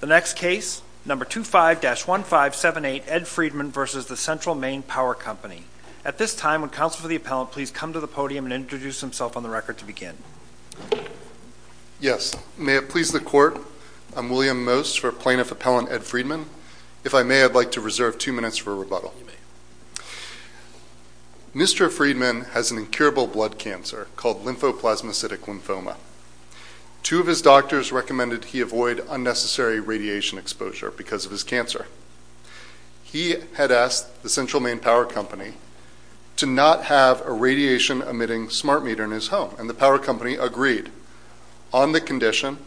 The next case, number 25-1578, Ed Friedman v. Central Maine Power Company. At this time, would counsel for the appellant please come to the podium and introduce himself on the record to begin. Yes. May it please the court, I'm William Most for plaintiff appellant Ed Friedman. If I may, I'd like to reserve two minutes for rebuttal. Mr. Friedman has an incurable blood cancer called lymphoplasmicidic lymphoma. Two of his doctors recommended he avoid unnecessary radiation exposure because of his cancer. He had asked the Central Maine Power Company to not have a radiation emitting smart meter in his home. And the power company agreed on the condition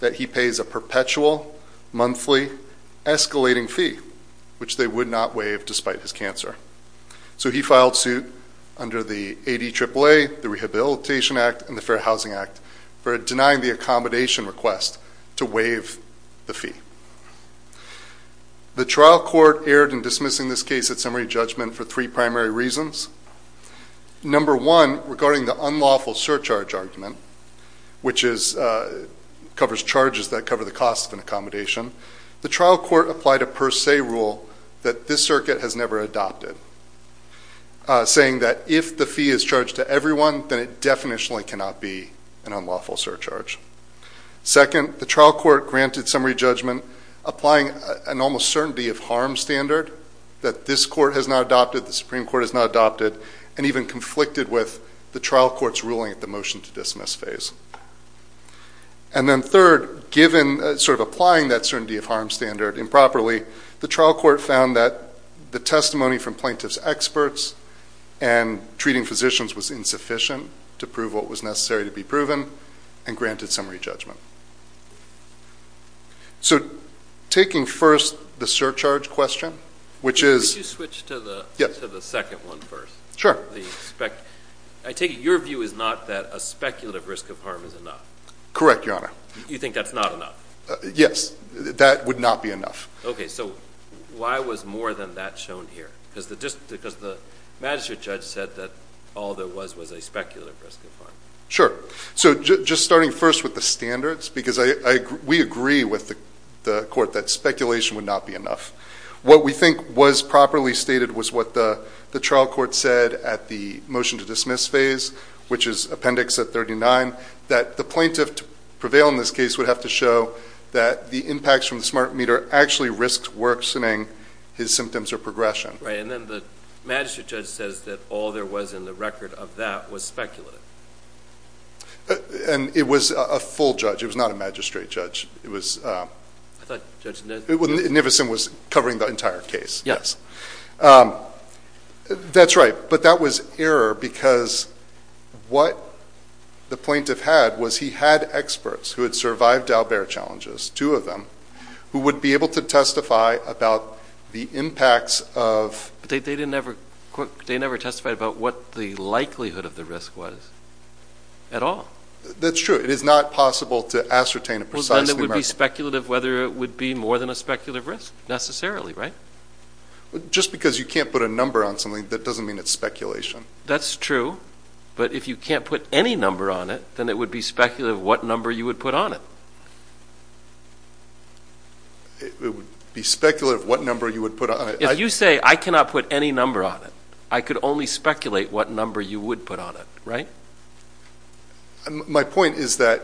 that he pays a perpetual monthly escalating fee, which they would not waive despite his cancer. So he filed suit under the ADAAA, the Rehabilitation Act, and the Fair Housing Act for denying the accommodation request to waive the fee. The trial court erred in dismissing this case at summary judgment for three primary reasons. Number one, regarding the unlawful surcharge argument, which covers charges that cover the cost of an accommodation, the trial court applied a per se rule that this circuit has never adopted, saying that if the fee is charged to everyone, then it definitely cannot be an unlawful surcharge. Second, the trial court granted summary judgment applying an almost certainty of harm standard that this court has not adopted, the Supreme Court has not adopted, and even conflicted with the trial court's ruling at the motion to dismiss phase. And then third, sort of applying that certainty of harm standard improperly, the trial court found that the testimony from plaintiff's experts and treating physicians was insufficient to prove what was necessary to be proven and granted summary judgment. So taking first the surcharge question, which is... Could you switch to the second one first? Sure. I take it your view is not that a speculative risk of harm is enough? Correct, Your Honor. You think that's not enough? Yes, that would not be enough. Okay, so why was more than that shown here? Because the magistrate judge said that all there was was a speculative risk of harm. Sure. So just starting first with the standards, because we agree with the court that speculation would not be enough. What we think was properly stated was what the trial court said at the motion to dismiss phase, which is appendix at 39, that the plaintiff to prevail in this case would have to show that the impacts from the smart meter actually risked worsening his symptoms or progression. Right, and then the magistrate judge says that all there was in the record of that was speculative. And it was a full judge. It was not a magistrate judge. I thought Judge Niffesen was covering the entire case. That's right. But that was error because what the plaintiff had was he had experts who had survived Dalbert challenges, two of them, who would be able to testify about the impacts of... But they never testified about what the likelihood of the risk was at all. That's true. It is not possible to ascertain a precise... Well, then it would be speculative whether it would be more than a speculative risk necessarily, right? Just because you can't put a number on something, that doesn't mean it's speculation. That's true. But if you can't put any number on it, then it would be speculative what number you would put on it. It would be speculative what number you would put on it. If you say I cannot put any number on it, I could only speculate what number you would put on it, right? My point is that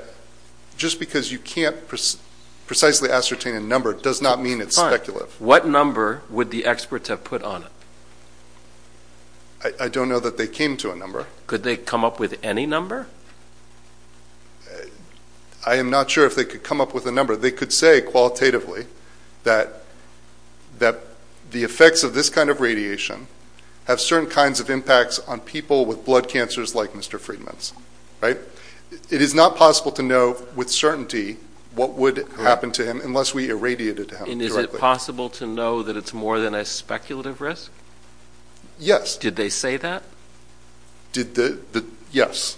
just because you can't precisely ascertain a number does not mean it's speculative. Fine. What number would the experts have put on it? I don't know that they came to a number. Could they come up with any number? I am not sure if they could come up with a number. They could say qualitatively that the effects of this kind of radiation have certain kinds of impacts on people with blood cancers like Mr. Friedman's, right? It is not possible to know with certainty what would happen to him unless we irradiated him directly. And is it possible to know that it's more than a speculative risk? Yes. Did they say that? Yes.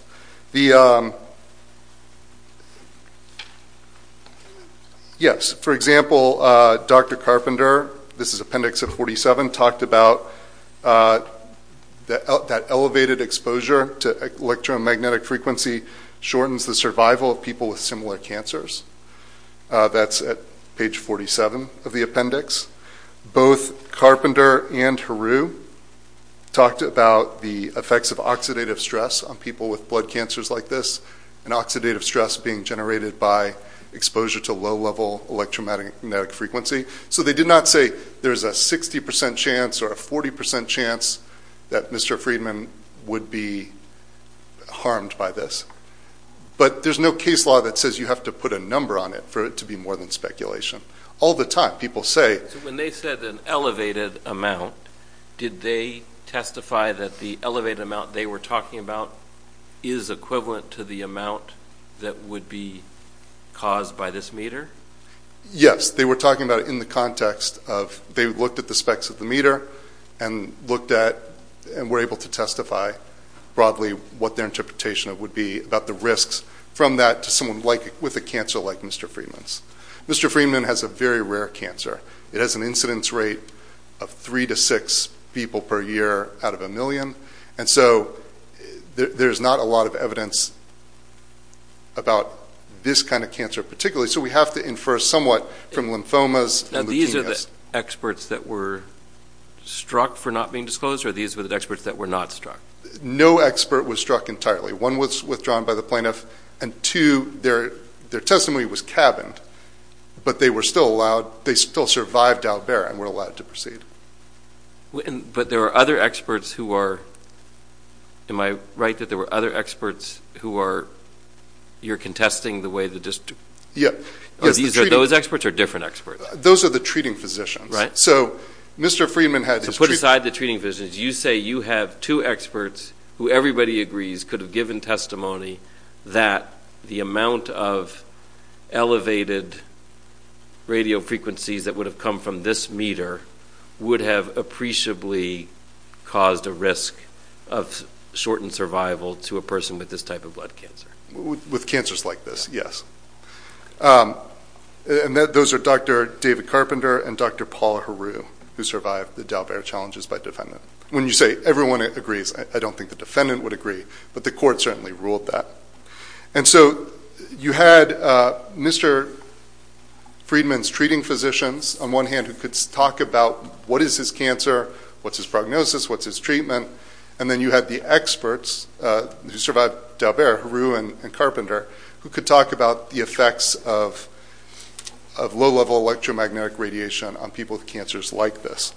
Yes. For example, Dr. Carpenter, this is appendix 47, talked about that elevated exposure to electromagnetic frequency shortens the survival of people with similar cancers. That's at page 47 of the appendix. Both Carpenter and Heroux talked about the effects of oxidative stress on people with blood cancers like this and oxidative stress being generated by exposure to low-level electromagnetic frequency. So they did not say there's a 60% chance or a 40% chance that Mr. Friedman would be harmed by this. But there's no case law that says you have to put a number on it for it to be more than speculation. All the time people say... So when they said an elevated amount, did they testify that the elevated amount they were talking about is equivalent to the amount that would be caused by this meter? Yes. They were talking about it in the context of they looked at the specs of the meter and looked at and were able to testify broadly what their interpretation would be about the risks from that to someone with a cancer like Mr. Friedman's. Mr. Friedman has a very rare cancer. It has an incidence rate of three to six people per year out of a million. And so there's not a lot of evidence about this kind of cancer particularly. So we have to infer somewhat from lymphomas and leukemias. Now these are the experts that were struck for not being disclosed or these were the experts that were not struck? No expert was struck entirely. One was withdrawn by the plaintiff and two, their testimony was cabined. But they still survived out there and were allowed to proceed. But there are other experts who are... Am I right that there were other experts who are... You're contesting the way the district... Yeah. Are those experts or different experts? Those are the treating physicians. Right. So Mr. Friedman had... Put aside the treating physicians, you say you have two experts who everybody agrees could have given testimony that the amount of elevated radio frequencies that would have come from this meter would have appreciably caused a risk of shortened survival to a person with this type of blood cancer. With cancers like this, yes. And those are Dr. David Carpenter and Dr. Paul Heroux who survived the Dalbert challenges by defendant. When you say everyone agrees, I don't think the defendant would agree, but the court certainly ruled that. And so you had Mr. Friedman's treating physicians on one hand who could talk about what is his cancer, what's his prognosis, what's his treatment, and then you had the experts who survived Dalbert, Heroux and Carpenter who could talk about the effects of low-level electromagnetic radiation on people with cancers like this.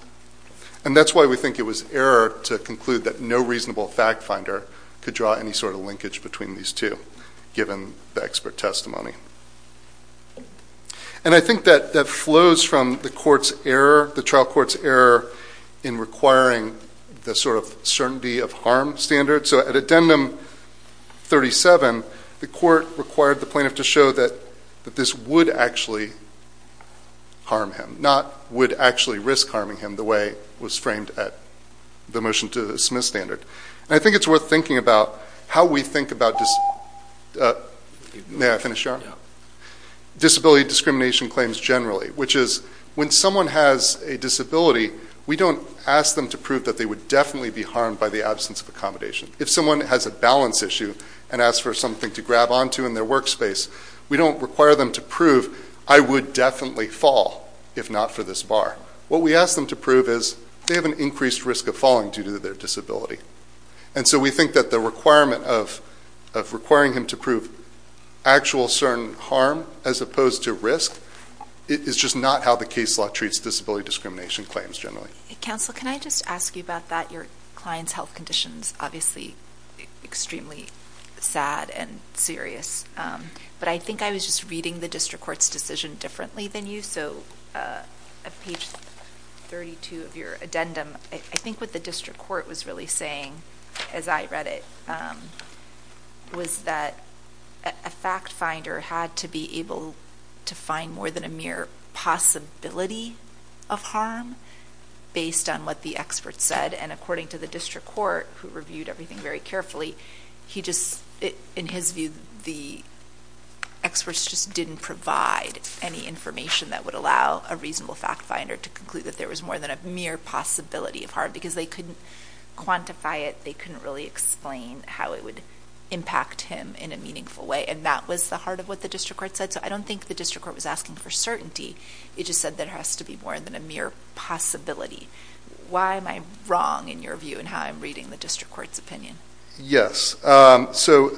And that's why we think it was error to conclude that no reasonable fact-finder could draw any sort of linkage between these two, given the expert testimony. And I think that flows from the trial court's error in requiring the sort of certainty of harm standard. So at addendum 37, the court required the plaintiff to show that this would actually harm him, not would actually risk harming him the way it was framed at the motion to dismiss standard. And I think it's worth thinking about how we think about disability discrimination claims generally, which is when someone has a disability, we don't ask them to prove that they would definitely be harmed by the absence of accommodation. If someone has a balance issue and asks for something to grab onto in their workspace, we don't require them to prove, I would definitely fall if not for this bar. What we ask them to prove is they have an increased risk of falling due to their disability. And so we think that the requirement of requiring him to prove actual certain harm as opposed to risk is just not how the case law treats disability discrimination claims generally. Counsel, can I just ask you about that? Your client's health condition is obviously extremely sad and serious. But I think I was just reading the district court's decision differently than you. So at page 32 of your addendum, I think what the district court was really saying, as I read it, was that a fact finder had to be able to find more than a mere possibility of harm based on what the expert said. And according to the district court, who reviewed everything very carefully, in his view, the experts just didn't provide any information that would allow a reasonable fact finder to conclude that there was more than a mere possibility of harm because they couldn't quantify it. They couldn't really explain how it would impact him in a meaningful way. And that was the heart of what the district court said. So I don't think the district court was asking for certainty. It just said there has to be more than a mere possibility. Why am I wrong in your view in how I'm reading the district court's opinion? Yes. So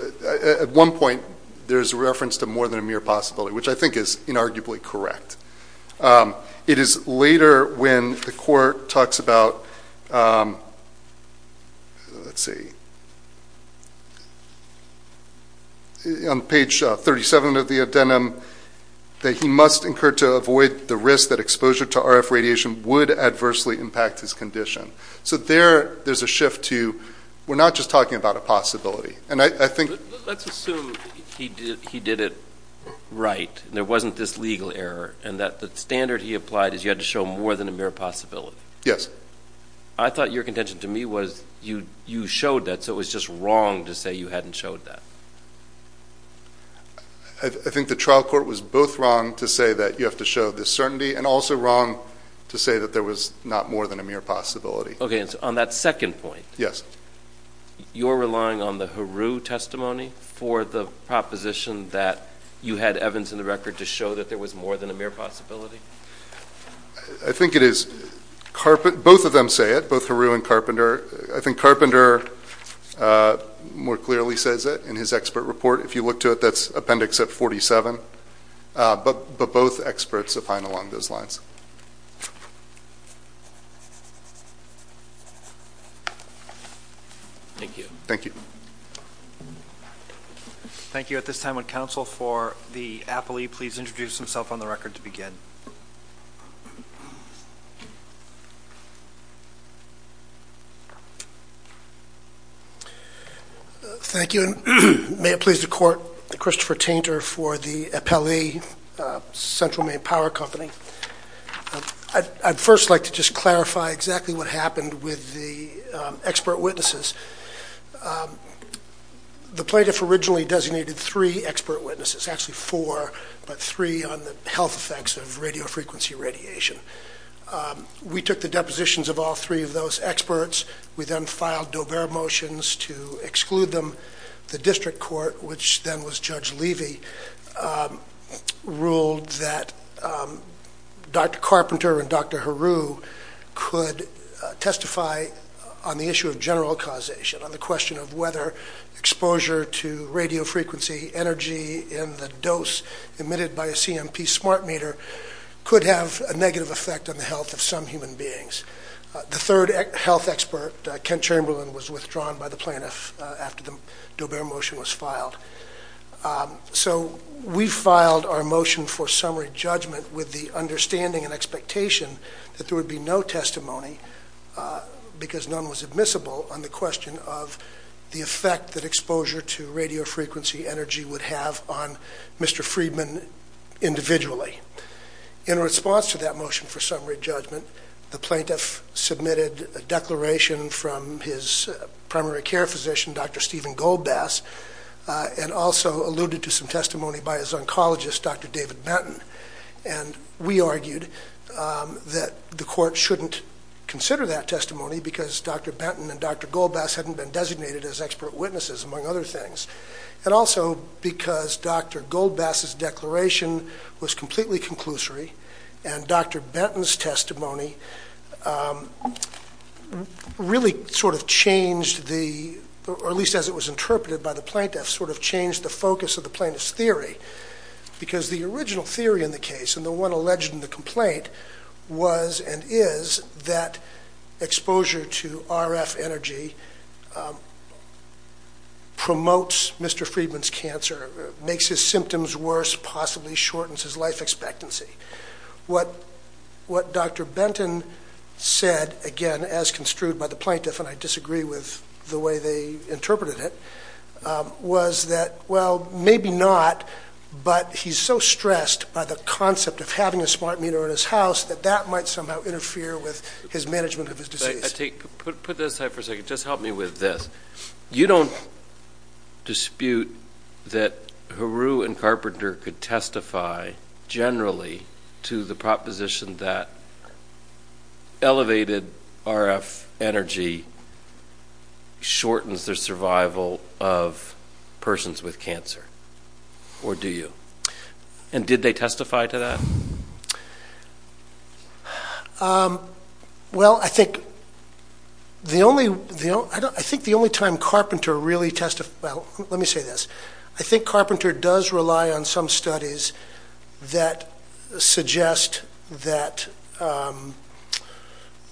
at one point, there's a reference to more than a mere possibility, which I think is inarguably correct. It is later when the court talks about, let's see, on page 37 of the addendum, that he must incur to avoid the risk that exposure to RF radiation would adversely impact his condition. So there, there's a shift to we're not just talking about a possibility. Let's assume he did it right and there wasn't this legal error and that the standard he applied is you had to show more than a mere possibility. Yes. I thought your contention to me was you showed that, so it was just wrong to say you hadn't showed that. I think the trial court was both wrong to say that you have to show this certainty and also wrong to say that there was not more than a mere possibility. Okay. On that second point. Yes. You're relying on the Heroux testimony for the proposition that you had Evans in the record to show that there was more than a mere possibility? I think it is. Both of them say it, both Heroux and Carpenter. I think Carpenter more clearly says it in his expert report. If you look to it, that's appendix at 47. But both experts opine along those lines. Thank you. Thank you. Thank you. At this time, would counsel for the appellee please introduce himself on the record to begin? Thank you. May it please the Court, Christopher Tainter for the appellee, Central Maine Power Company. I'd first like to just clarify exactly what happened with the expert witnesses. The plaintiff originally designated three expert witnesses, actually four, but three on the health effects of radiofrequency radiation. We took the depositions of all three of those experts. We then filed Daubert motions to exclude them. The district court, which then was Judge Levy, ruled that Dr. Carpenter and Dr. Heroux could testify on the issue of general causation, on the question of whether exposure to radiofrequency energy in the dose emitted by a CMP smart meter could have a negative effect on the health of some human beings. The third health expert, Kent Chamberlain, was withdrawn by the plaintiff after the Daubert motion was filed. So we filed our motion for summary judgment with the understanding and expectation that there would be no testimony, because none was admissible, on the question of the effect that exposure to radiofrequency energy would have on Mr. Friedman individually. In response to that motion for summary judgment, the plaintiff submitted a declaration from his primary care physician, Dr. Stephen Goldbass, and also alluded to some testimony by his oncologist, Dr. David Benton. And we argued that the court shouldn't consider that testimony because Dr. Benton and Dr. Goldbass hadn't been designated as expert witnesses, among other things, and also because Dr. Goldbass's declaration was completely conclusory and Dr. Benton's testimony really sort of changed the, or at least as it was interpreted by the plaintiff, sort of changed the focus of the plaintiff's theory. Because the original theory in the case, and the one alleged in the complaint, was and is that exposure to RF energy promotes Mr. Friedman's cancer, makes his symptoms worse, possibly shortens his life expectancy. What Dr. Benton said, again, as construed by the plaintiff, and I disagree with the way they interpreted it, was that, well, maybe not, but he's so stressed by the concept of having a smart meter in his house that that might somehow interfere with his management of his disease. Put this aside for a second. Just help me with this. You don't dispute that Heroux and Carpenter could testify, generally, to the proposition that elevated RF energy shortens the survival of persons with cancer, or do you? And did they testify to that? Well, I think the only time Carpenter really testified, well, let me say this. I think Carpenter does rely on some studies that suggest that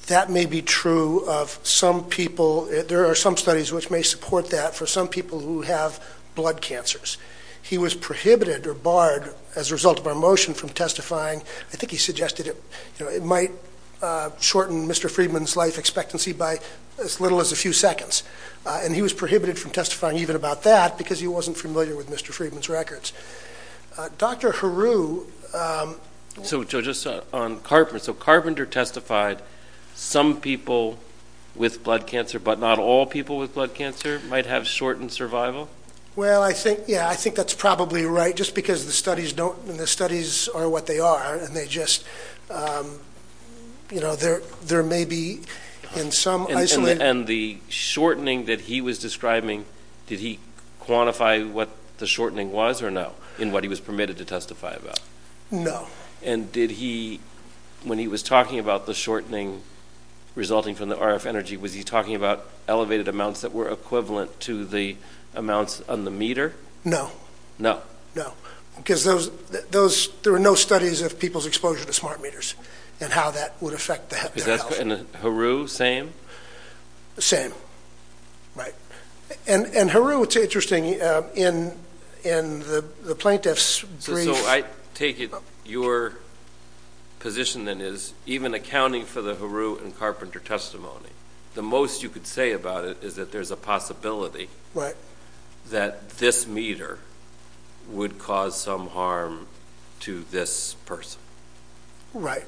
that may be true of some people. There are some studies which may support that for some people who have blood cancers. He was prohibited or barred, as a result of our motion, from testifying. I think he suggested it might shorten Mr. Friedman's life expectancy by as little as a few seconds. And he was prohibited from testifying even about that because he wasn't familiar with Mr. Friedman's records. Dr. Heroux... So, Joe, just on Carpenter, so Carpenter testified some people with blood cancer, but not all people with blood cancer might have shortened survival? Well, I think, yeah, I think that's probably right, just because the studies are what they are, and they just, you know, there may be in some isolated... And the shortening that he was describing, did he quantify what the shortening was or no, in what he was permitted to testify about? No. And did he, when he was talking about the shortening resulting from the RF energy, was he talking about elevated amounts that were equivalent to the amounts on the meter? No. No. No, because there were no studies of people's exposure to smart meters and how that would affect their health. And Heroux, same? Same, right. And Heroux, it's interesting, in the plaintiff's brief... So I take it your position then is even accounting for the Heroux and Carpenter testimony, the most you could say about it is that there's a possibility that this meter would cause some harm to this person. Right.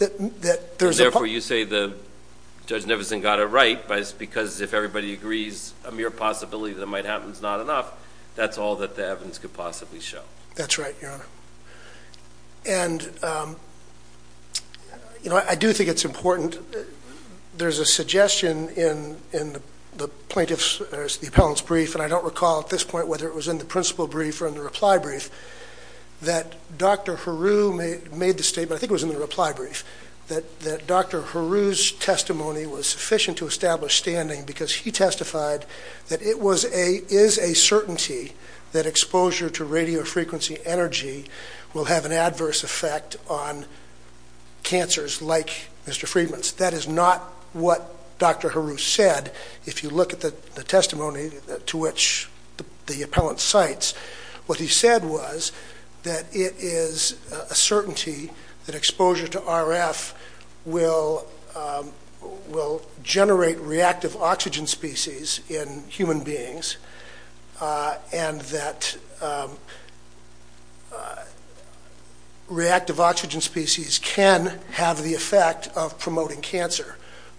And therefore you say that Judge Nevison got it right, but it's because if everybody agrees a mere possibility that it might happen is not enough, that's all that the evidence could possibly show. That's right, Your Honor. And, you know, I do think it's important. There's a suggestion in the plaintiff's or the appellant's brief, and I don't recall at this point whether it was in the principal brief or in the reply brief, that Dr. Heroux made the statement, I think it was in the reply brief, that Dr. Heroux's testimony was sufficient to establish standing because he testified that it is a certainty that exposure to radio frequency energy will have an adverse effect on cancers like Mr. Friedman's. That is not what Dr. Heroux said. If you look at the testimony to which the appellant cites, what he said was that it is a certainty that exposure to RF will generate reactive oxygen species in human beings and that reactive oxygen species can have the effect of promoting cancer,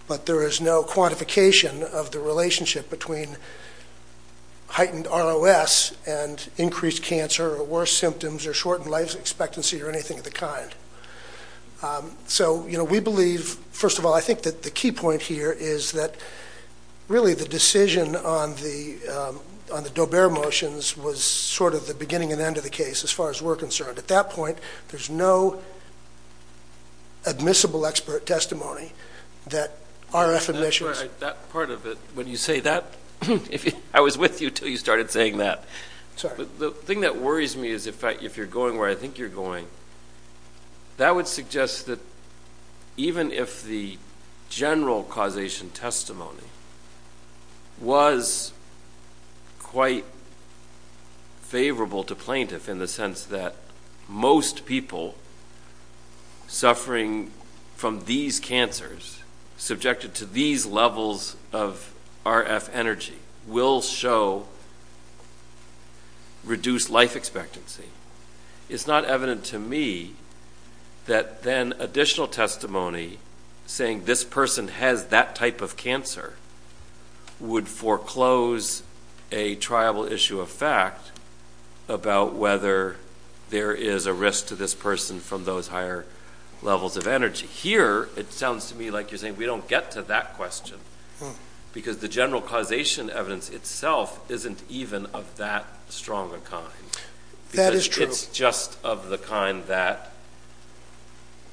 but there is no quantification of the relationship between heightened ROS and increased cancer or worse symptoms or shortened life expectancy or anything of the kind. So, you know, we believe, first of all, I think that the key point here is that, really, the decision on the Daubert motions was sort of the beginning and end of the case as far as we're concerned. At that point, there's no admissible expert testimony that RF emissions... That part of it, when you say that, I was with you until you started saying that. The thing that worries me is, in fact, if you're going where I think you're going, that would suggest that even if the general causation testimony was quite favorable to plaintiff in the sense that most people suffering from these cancers subjected to these levels of RF energy will show reduced life expectancy. It's not evident to me that then additional testimony saying this person has that type of cancer would foreclose a triable issue of fact about whether there is a risk to this person from those higher levels of energy. Here, it sounds to me like you're saying we don't get to that question because the general causation evidence itself isn't even of that strong a kind. It's just of the kind that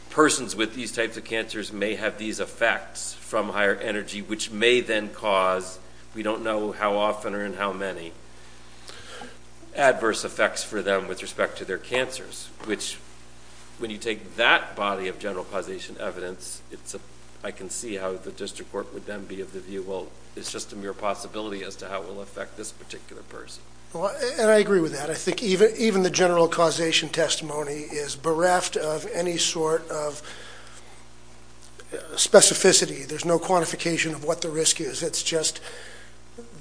persons with these types of cancers may have these effects from higher energy which may then cause, we don't know how often or in how many, adverse effects for them with respect to their cancers, which when you take that body of general causation evidence, I can see how the district court would then be of the view, well, it's just a mere possibility as to how it will affect this particular person. I agree with that. I think even the general causation testimony is bereft of any sort of specificity. There's no quantification of what the risk is. It's just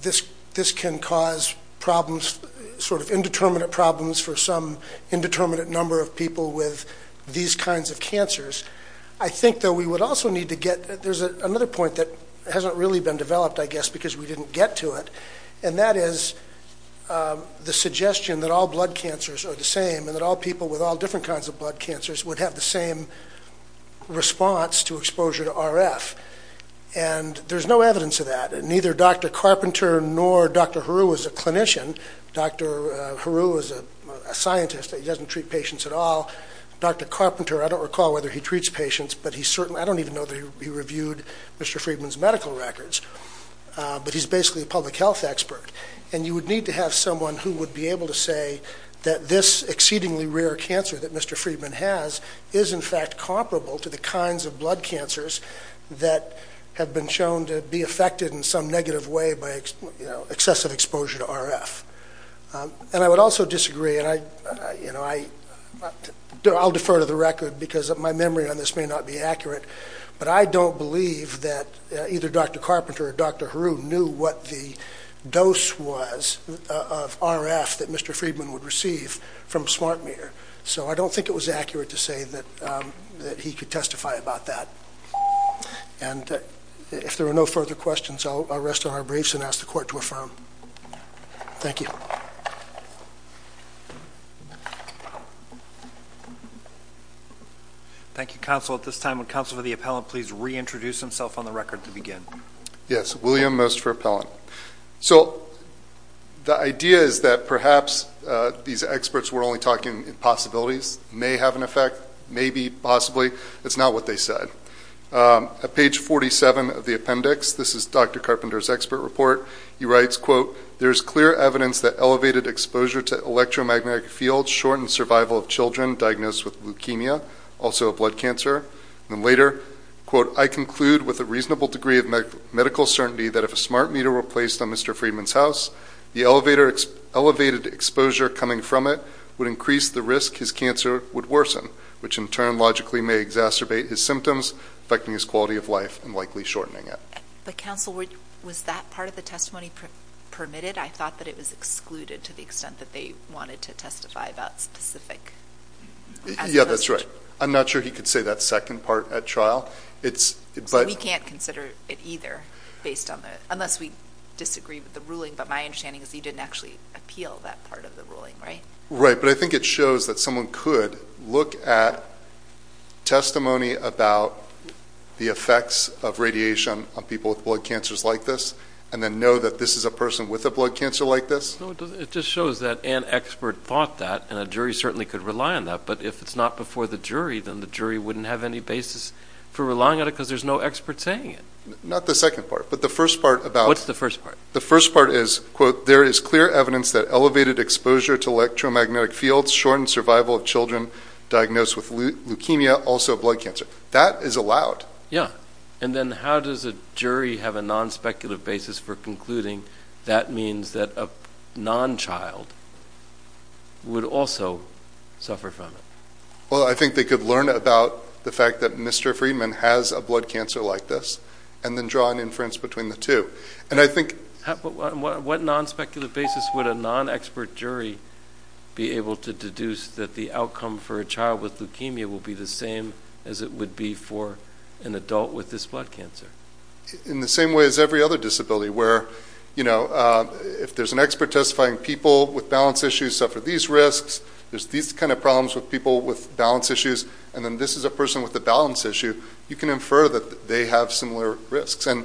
this can cause problems, sort of indeterminate problems for some indeterminate number of people with these kinds of cancers. I think, though, we would also need to get, there's another point that hasn't really been developed, I guess, because we didn't get to it, and that is the suggestion that all blood cancers are the same and that all people with all different kinds of blood cancers would have the same response to exposure to RF. And there's no evidence of that, and neither Dr. Carpenter nor Dr. Heroux is a clinician. Dr. Heroux is a scientist. He doesn't treat patients at all. Dr. Carpenter, I don't recall whether he treats patients, but he certainly, I don't even know that he reviewed Mr. Friedman's medical records, but he's basically a public health expert. And you would need to have someone who would be able to say that this exceedingly rare cancer that Mr. Friedman has is in fact comparable to the kinds of blood cancers that have been shown to be affected in some negative way by excessive exposure to RF. And I would also disagree, and I'll defer to the record because my memory on this may not be accurate, but I don't believe that either Dr. Carpenter or Dr. Heroux knew what the dose was of RF that Mr. Friedman would receive from a smart meter. So I don't think it was accurate to say that he could testify about that. And if there are no further questions, I'll rest on our briefs and ask the Court to affirm. Thank you. Thank you. At this time, would Counsel for the Appellant please reintroduce himself on the record to begin? Yes, William Most for Appellant. So the idea is that perhaps these experts were only talking possibilities, may have an effect, maybe, possibly. It's not what they said. At page 47 of the appendix, this is Dr. Carpenter's expert report. He writes, quote, there is clear evidence that elevated exposure to electromagnetic fields shortens survival of children diagnosed with leukemia, also a blood cancer. And later, quote, I conclude with a reasonable degree of medical certainty that if a smart meter were placed on Mr. Friedman's house, the elevated exposure coming from it would increase the risk his cancer would worsen, which in turn logically may exacerbate his symptoms affecting his quality of life and likely shortening it. But, Counsel, was that part of the testimony permitted? I thought that it was excluded to the extent that they wanted to testify about specific aspects. Yeah, that's right. I'm not sure he could say that second part at trial. We can't consider it either, unless we disagree with the ruling. But my understanding is he didn't actually appeal that part of the ruling, right? Right, but I think it shows that someone could look at testimony about the effects of radiation on people with blood cancers like this and then know that this is a person with a blood cancer like this. No, it just shows that an expert thought that, and a jury certainly could rely on that. But if it's not before the jury, then the jury wouldn't have any basis for relying on it because there's no expert saying it. Not the second part, but the first part about it. What's the first part? The first part is, quote, There is clear evidence that elevated exposure to electromagnetic fields shortens survival of children diagnosed with leukemia, also a blood cancer. That is allowed. Yeah. And then how does a jury have a non-speculative basis for concluding that means that a non-child would also suffer from it? Well, I think they could learn about the fact that Mr. Friedman has a blood cancer like this and then draw an inference between the two. And I think What non-speculative basis would a non-expert jury be able to deduce that the outcome for a child with leukemia will be the same as it would be for an adult with this blood cancer? In the same way as every other disability where, you know, if there's an expert testifying people with balance issues suffer these risks, there's these kind of problems with people with balance issues, and then this is a person with a balance issue, you can infer that they have similar risks. And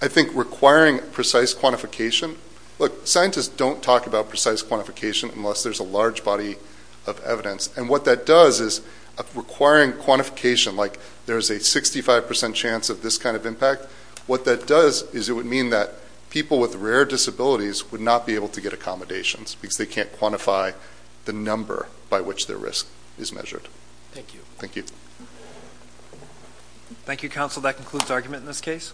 I think requiring precise quantification, look, scientists don't talk about precise quantification unless there's a large body of evidence. And what that does is requiring quantification, like there's a 65% chance of this kind of impact, what that does is it would mean that people with rare disabilities would not be able to get accommodations because they can't quantify the number by which their risk is measured. Thank you. Thank you. Thank you, counsel. That concludes argument in this case.